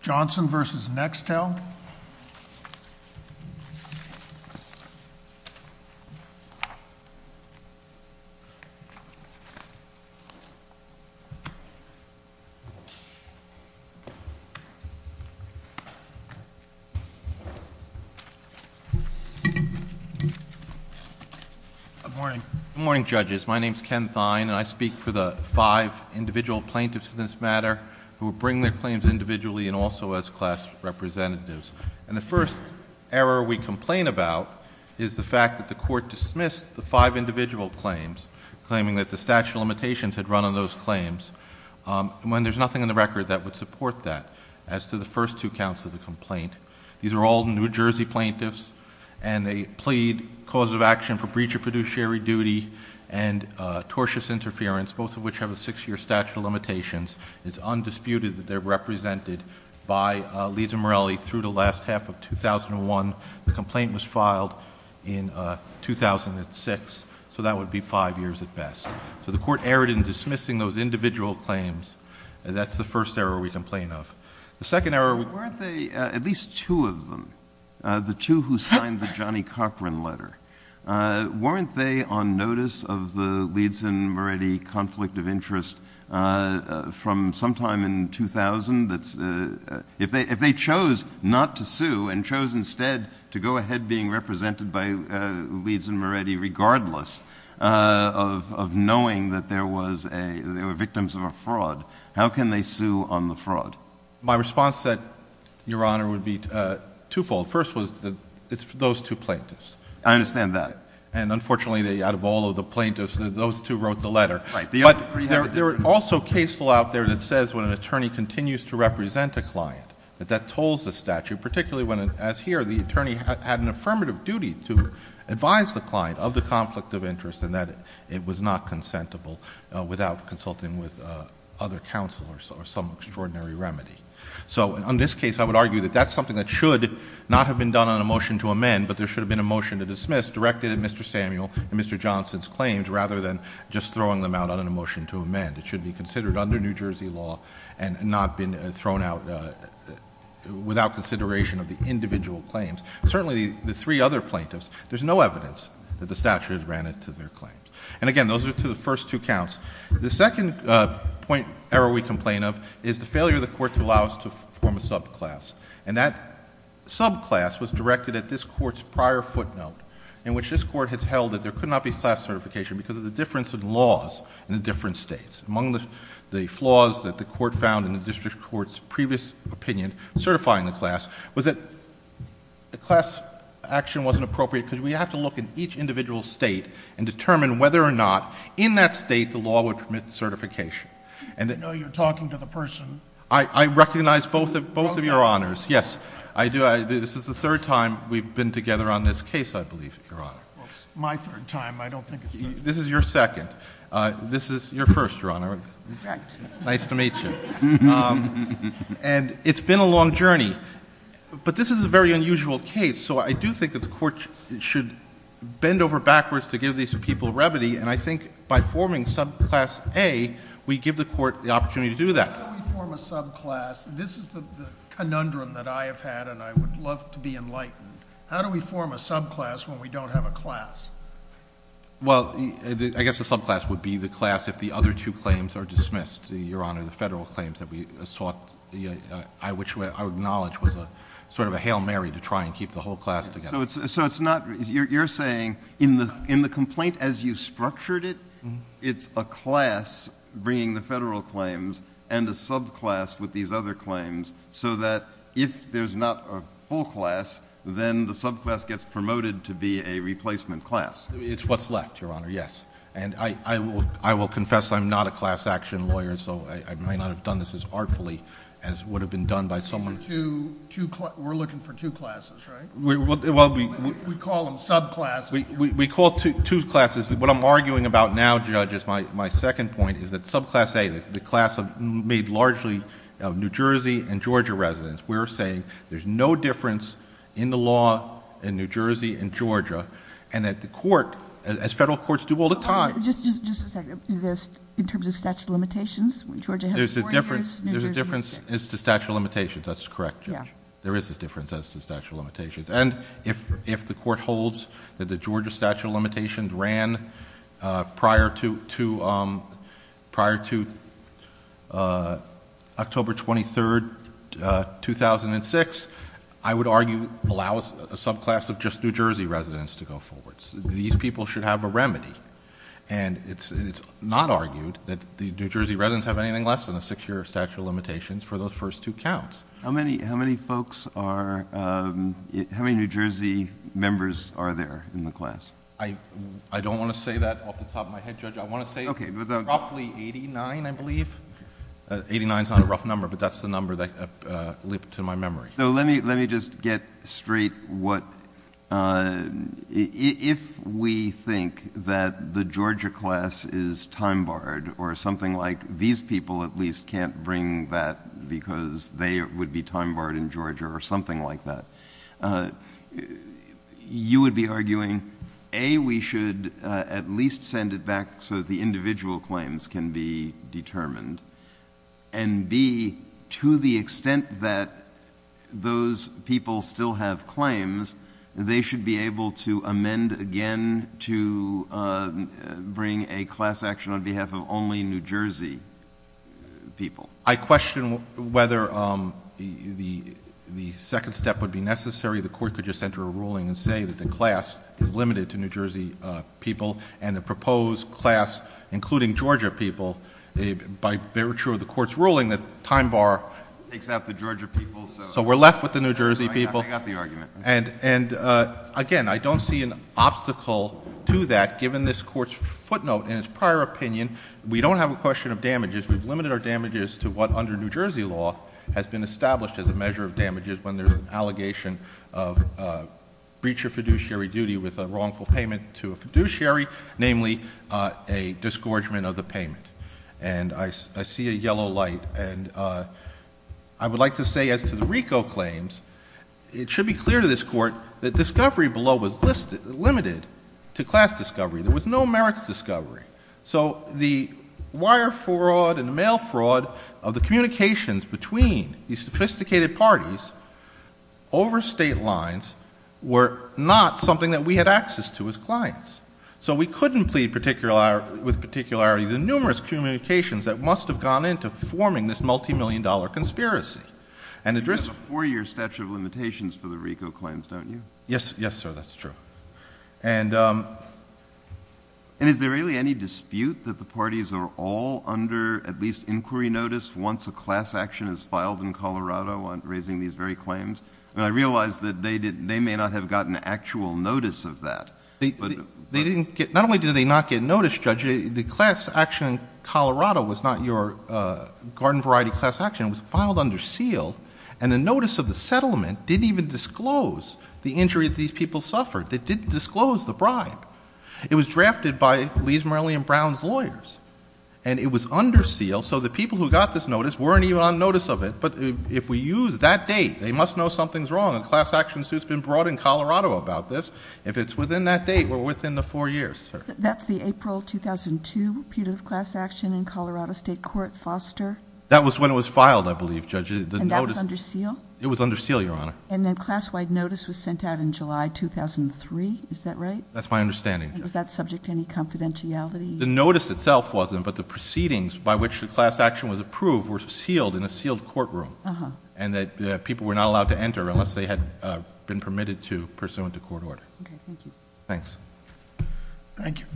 Johnson v. Nextel Good morning. Good morning, judges. My name is Ken Thine and I speak for the five individual plaintiffs in this matter who bring their claims individually and also as class representatives. And the first error we complain about is the fact that the court dismissed the five individual claims claiming that the statute of limitations had run on those claims when there's nothing in the record that would support that as to the first two counts of the complaint. These are all New Jersey plaintiffs and they plead cause of action for breach of fiduciary duty and tortious interference, both of which have a six-year statute of limitations. It's undisputed that they're represented by Leeds and Morelli through the last half of 2001. The complaint was filed in 2006, so that would be five years at best. So the court erred in dismissing those individual claims. That's the first error we complain of. The second error we— Weren't they, at least two of them, the two who signed the Johnny Copran letter, weren't they on notice of the Leeds and Morelli conflict of interest from sometime in 2000? If they chose not to sue and chose instead to go ahead being represented by Leeds and Morelli regardless of knowing that they were victims of a fraud, how can they sue on the fraud? My response, Your Honor, would be twofold. First was it's those two plaintiffs. I understand that. And unfortunately, out of all of the plaintiffs, those two wrote the letter. But there are also case law out there that says when an attorney continues to represent a client, that that tolls the statute, particularly when, as here, the attorney had an affirmative duty to advise the client of the conflict of interest and that it was not consentable without consulting with other counsel or some extraordinary remedy. So in this case, I would argue that that's something that should not have been done on a motion to amend, but there should have been a motion to dismiss directed at Mr. Samuel and Mr. Johnson's claims rather than just throwing them out on a motion to amend. It should be considered under New Jersey law and not been thrown out without consideration of the individual claims. Certainly, the three other plaintiffs, there's no evidence that the statute ran into their claims. And again, those are to the first two counts. The second point error we complain of is the failure of the Court to allow us to form a subclass. And that subclass was directed at this Court's prior footnote in which this Court has held that there could not be class certification because of the difference in laws in the different states. Among the flaws that the Court found in the District Court's previous opinion certifying the class was that the class action wasn't appropriate because we have to look at each individual state and determine whether or not in that state the law would permit certification. And that... I know you're talking to the person. I recognize both of your honors. Yes. I do. This is the third time we've been together on this case, I believe, Your Honor. My third time. I don't think it's my... This is your second. This is your first, Your Honor. Correct. Nice to meet you. And it's been a long journey. But this is a very unusual case. So I do think that the Court should bend over backwards to give these people remedy. And I think by forming subclass A, we give the Court the opportunity to do that. How do we form a subclass? This is the conundrum that I have had and I would love to be enlightened. How do we form a subclass when we don't have a class? Well, I guess a subclass would be the class if the other two claims are dismissed, Your Honor, the Federal claims that we sought, which I acknowledge was sort of a Hail Mary to try and keep the whole class together. So it's not... You're saying in the complaint as you structured it, it's a class bringing the Federal claims and a subclass with these other claims so that if there's not a full class, then the subclass gets promoted to be a replacement class. It's what's left, Your Honor, yes. And I will confess I'm not a class action lawyer, so I might not have done this as artfully as would have been done by someone... We're looking for two classes, right? We call them subclasses. We call two classes. What I'm arguing about now, Judge, is my second point, which I made largely of New Jersey and Georgia residents. We're saying there's no difference in the law in New Jersey and Georgia and that the Court, as Federal Courts do all the time... Just a second. In terms of statute of limitations, Georgia has 40 years, New Jersey has 6. There's a difference as to statute of limitations. That's correct, Judge. There is a difference as to statute of limitations. And if the Court holds that the Georgia statute of limitations ran prior to October 23rd, 2006, I would argue allows a subclass of just New Jersey residents to go forward. These people should have a remedy. And it's not argued that the New Jersey residents have anything less than a six-year statute of limitations for those first two counts. How many New Jersey members are there in the class? I don't want to say that off the top of my head, Judge. I want to say roughly 89, I believe. 89 is not a rough number, but that's the number that leapt to my memory. So let me just get straight. If we think that the Georgia class is time-barred or something like these people at least can't bring that because they would be time-barred in Georgia or something like that, you would be arguing, A, we should at least make sure that the individual claims can be determined, and B, to the extent that those people still have claims, they should be able to amend again to bring a class action on behalf of only New Jersey people. I question whether the second step would be necessary. The Court could just enter a ruling and say that the class is limited to New Jersey people and the proposed class, including Georgia people, by virtue of the Court's ruling, the time bar takes out the Georgia people, so we're left with the New Jersey people. Again, I don't see an obstacle to that given this Court's footnote in its prior opinion. We don't have a question of damages. We've limited our damages to what under New Jersey law has been established as a measure of damages when there's an allegation of breach of fiduciary duty with a wrongful payment to a fiduciary, namely a disgorgement of the payment. I see a yellow light. I would like to say as to the RICO claims, it should be clear to this Court that discovery below was limited to class discovery. There was no merits discovery. The wire fraud and the mail fraud of the communications between these sophisticated parties over state lines were not something that we had access to as clients. We couldn't plead with particularity the numerous communications that must have gone into forming this multi-million dollar conspiracy. You have a four-year statute of limitations for the RICO claims, don't you? Yes, sir, that's true. Is there really any dispute that the parties are all under at least inquiry notice once a class action is filed in Colorado on raising these very claims? I realize that they may not have gotten actual notice of that. Not only did they not get notice, Judge, the class action in Colorado was not your garden variety class action. It was filed under seal, and the notice of the settlement didn't even disclose the injury that these people suffered. They didn't disclose the bribe. It was drafted by Lee's, Morelli, and Brown's lawyers. It was under seal, so the people who got this notice weren't even on notice of it. But if we use that date, they must know something's wrong. A class action suit's been brought in Colorado about this. If it's within that date, we're within the four years, sir. That's the April 2002, repeated class action in Colorado State Court, Foster. That was when it was filed, I believe, Judge. And that was under seal? It was under seal, Your Honor. And then class-wide notice was sent out in July 2003, is that right? That's my understanding, Judge. And was that subject to any confidentiality? The notice itself wasn't, but the proceedings by which the class action was approved were sealed in a sealed courtroom, and that people were not allowed to enter unless they had been permitted to pursuant to court order. Okay. Thank you. Thanks. Thank you.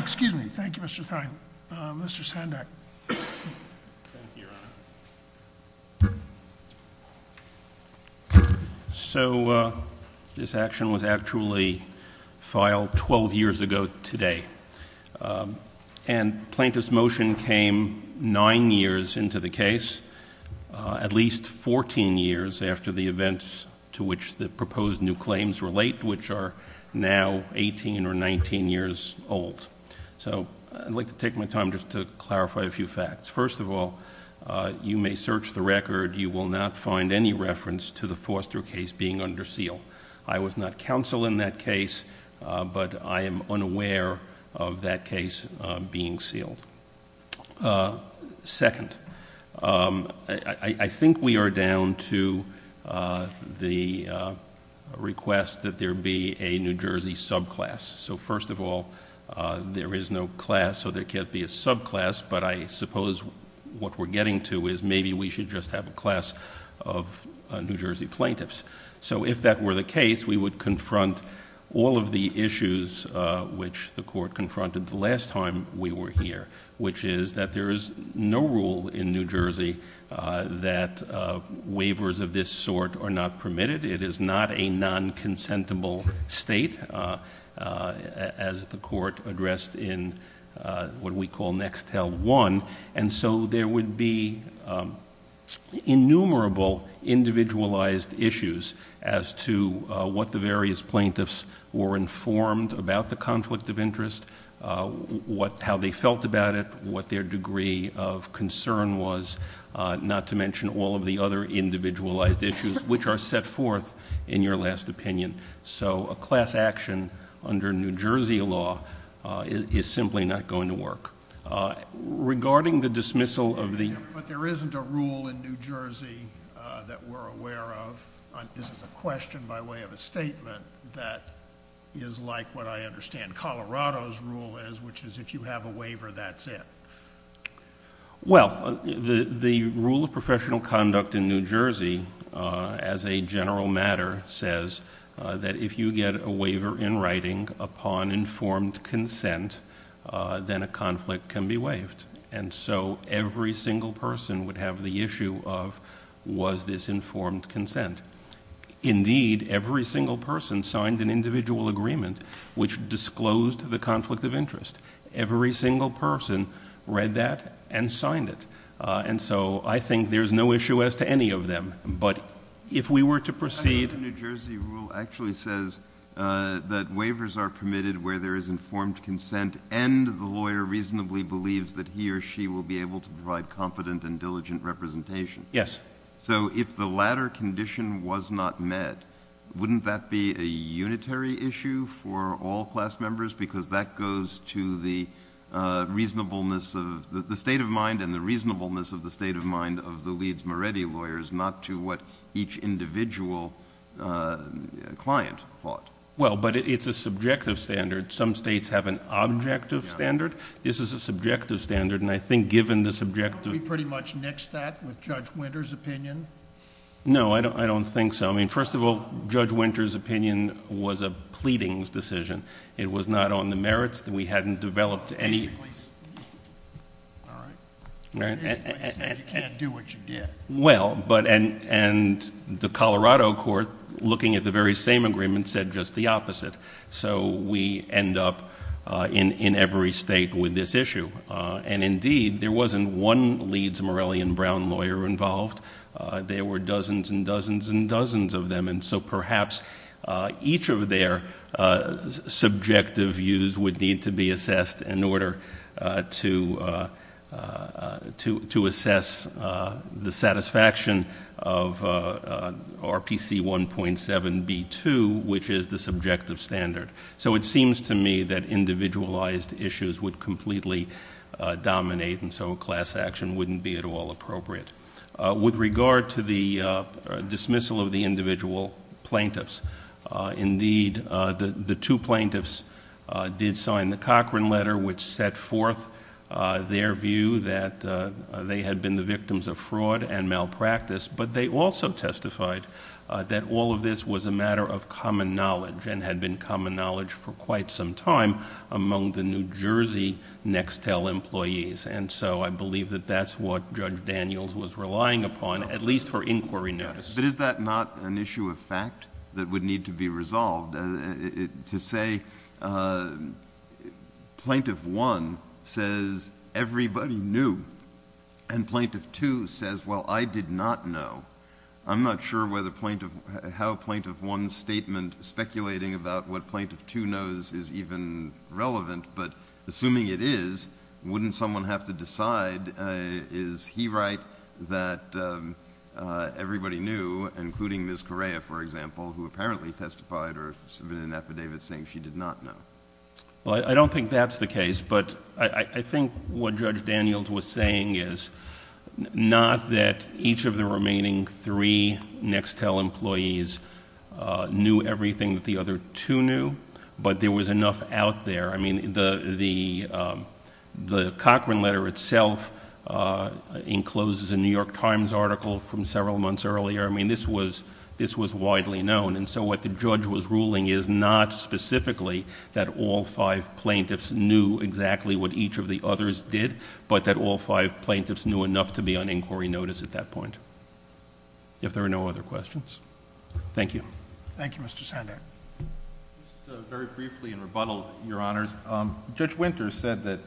Excuse me. Thank you, Mr. Thine. Mr. Sandak. Thank you, Your Honor. So this action was actually filed 12 years ago today. And plaintiff's motion came nine years into the case, at least 14 years after the events to which the proposed new claims relate, which are now 18 or 19 years old. So I'd like to take my time just to clarify a few facts. First of all, you may search the record. You will not find any reference to the Foster case being under seal. I was not counsel in that case, but I am unaware of that case being sealed. Second, I think we are down to the request that there be a New Jersey subclass. So first of all, there is no class, so there can't be a subclass, but I suppose what we're getting to is maybe we should just have a class of New Jersey plaintiffs. So if that were the case, we would confront all of the issues which the Court confronted the last time we were here, which is that there is no rule in New Jersey that waivers of this sort are not permitted. It is not a non-consentable state, as the Court addressed in what we call Nextel 1. And so there would be innumerable individualized issues as to what the various plaintiffs were informed about the conflict of interest, how they felt about it, what their degree of concern was, not to mention all of the other individualized issues, which are set forth in your last opinion. So a class action under New Jersey law is simply not going to work. Regarding the dismissal of the... But there isn't a rule in New Jersey that we're aware of. This is a question by way of a statement that is like what I understand Colorado's rule is, which is if you have a waiver, that's it. Well, the rule of professional conduct in New Jersey, as a general matter, says that if you get a waiver in writing upon informed consent, then a conflict can be waived. And so every single person would have the issue of was this informed consent. Indeed, every single person signed an individual agreement which disclosed the conflict of interest. Every single person read that and signed it. And so I think there's no issue as to any of them. But if we were to proceed... The New Jersey rule actually says that waivers are permitted where there is informed consent and the lawyer reasonably believes that he or she will be able to provide competent and diligent representation. So if the latter condition was not met, wouldn't that be a unitary issue for all class members? Because that goes to the reasonableness of... the state of mind and the reasonableness of the state of mind of the Leeds Moretti lawyers, not to what each individual client thought. Well, but it's a subjective standard. Some states have an objective standard. This is a subjective standard, and I think given the subjective... Don't we pretty much nix that with Judge Winter's opinion? No, I don't think so. First of all, Judge Winter's opinion was a pleadings decision. It was not on the merits. We hadn't developed any... Basically, you can't do what you did. Well, but... and the Colorado court looking at the very same agreement said just the opposite. So we end up in every state with this issue. And indeed, there wasn't one Leeds Moretti and Brown lawyer involved. There were dozens and dozens and dozens of them, and so perhaps each of their subjective views would need to be assessed in order to assess the satisfaction of RPC 1.7b2, which is the individualized issues would completely dominate, and so a class action wouldn't be at all appropriate. With regard to the dismissal of the individual plaintiffs, indeed, the two plaintiffs did sign the Cochran letter, which set forth their view that they had been the victims of fraud and malpractice, but they also testified that all of this was a matter of common knowledge and had been common knowledge for quite some time among the New Jersey Nextel employees, and so I believe that that's what Judge Daniels was relying upon, at least for inquiry notice. But is that not an issue of fact that would need to be resolved? To say Plaintiff 1 says everybody knew, and Plaintiff 2 says well, I did not know. I'm not sure whether Plaintiff... I'm not articulating about what Plaintiff 2 knows is even relevant, but assuming it is, wouldn't someone have to decide, is he right, that everybody knew, including Ms. Correa, for example, who apparently testified or submitted an affidavit saying she did not know? Well, I don't think that's the case, but I think what Judge Daniels was saying is not that each of the remaining three Nextel employees knew everything that the other two knew, but there was enough out there. I mean, the Cochran letter itself encloses a New York Times article from several months earlier. I mean, this was widely known, and so what the judge was ruling is not specifically that all five plaintiffs knew exactly what each of the others did, but that all five plaintiffs knew enough to be on inquiry notice at that point. If there are no other questions. Thank you. Thank you, Mr. Sandak. Just very briefly in rebuttal, Your Honors, Judge Winter said that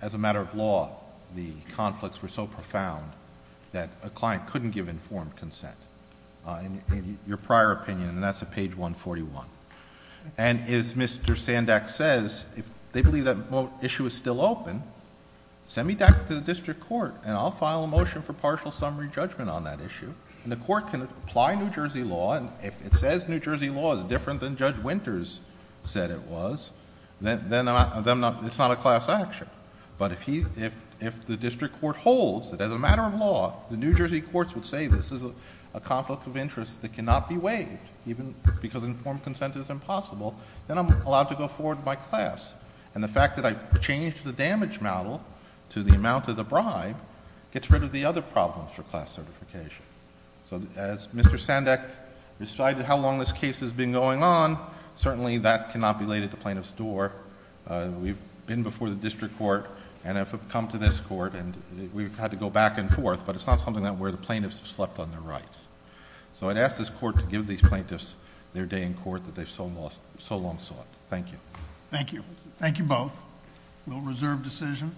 as a matter of law, the conflicts were so profound that a client couldn't give informed consent, in your prior opinion, and that's at page 141. And as Mr. Sandak says, if they believe that issue is still open, send me back to the district court, and I'll file a motion for partial summary judgment on that issue, and the court can apply New Jersey law, and if it says New Jersey law is different than Judge Winters said it was, then it's not a class action. But if the district court holds that as a matter of law, the New Jersey courts would say this is a conflict of interest that cannot be waived, even because informed consent is impossible, then I'm allowed to go forward with my class. And the fact that I've changed the damage model to the amount of the bribe gets rid of the other problems for class certification. So as Mr. Sandak decided how long this case has been going on, certainly that cannot be laid at the plaintiff's door. We've been before the district court, and have come to this court, and we've had to go back and forth, but it's not something where the plaintiffs have slept on their rights. So I'd ask this court to give these plaintiffs their day in court that they've so long sought. Thank you. Thank you. Thank you both. We'll reserve decision.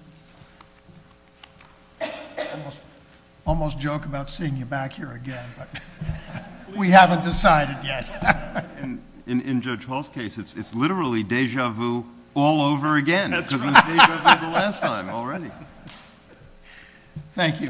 Almost joke about seeing you back here again, but we haven't decided yet. In Judge Hall's case, it's literally deja vu all over again, because it was deja vu the last time already. Thank you.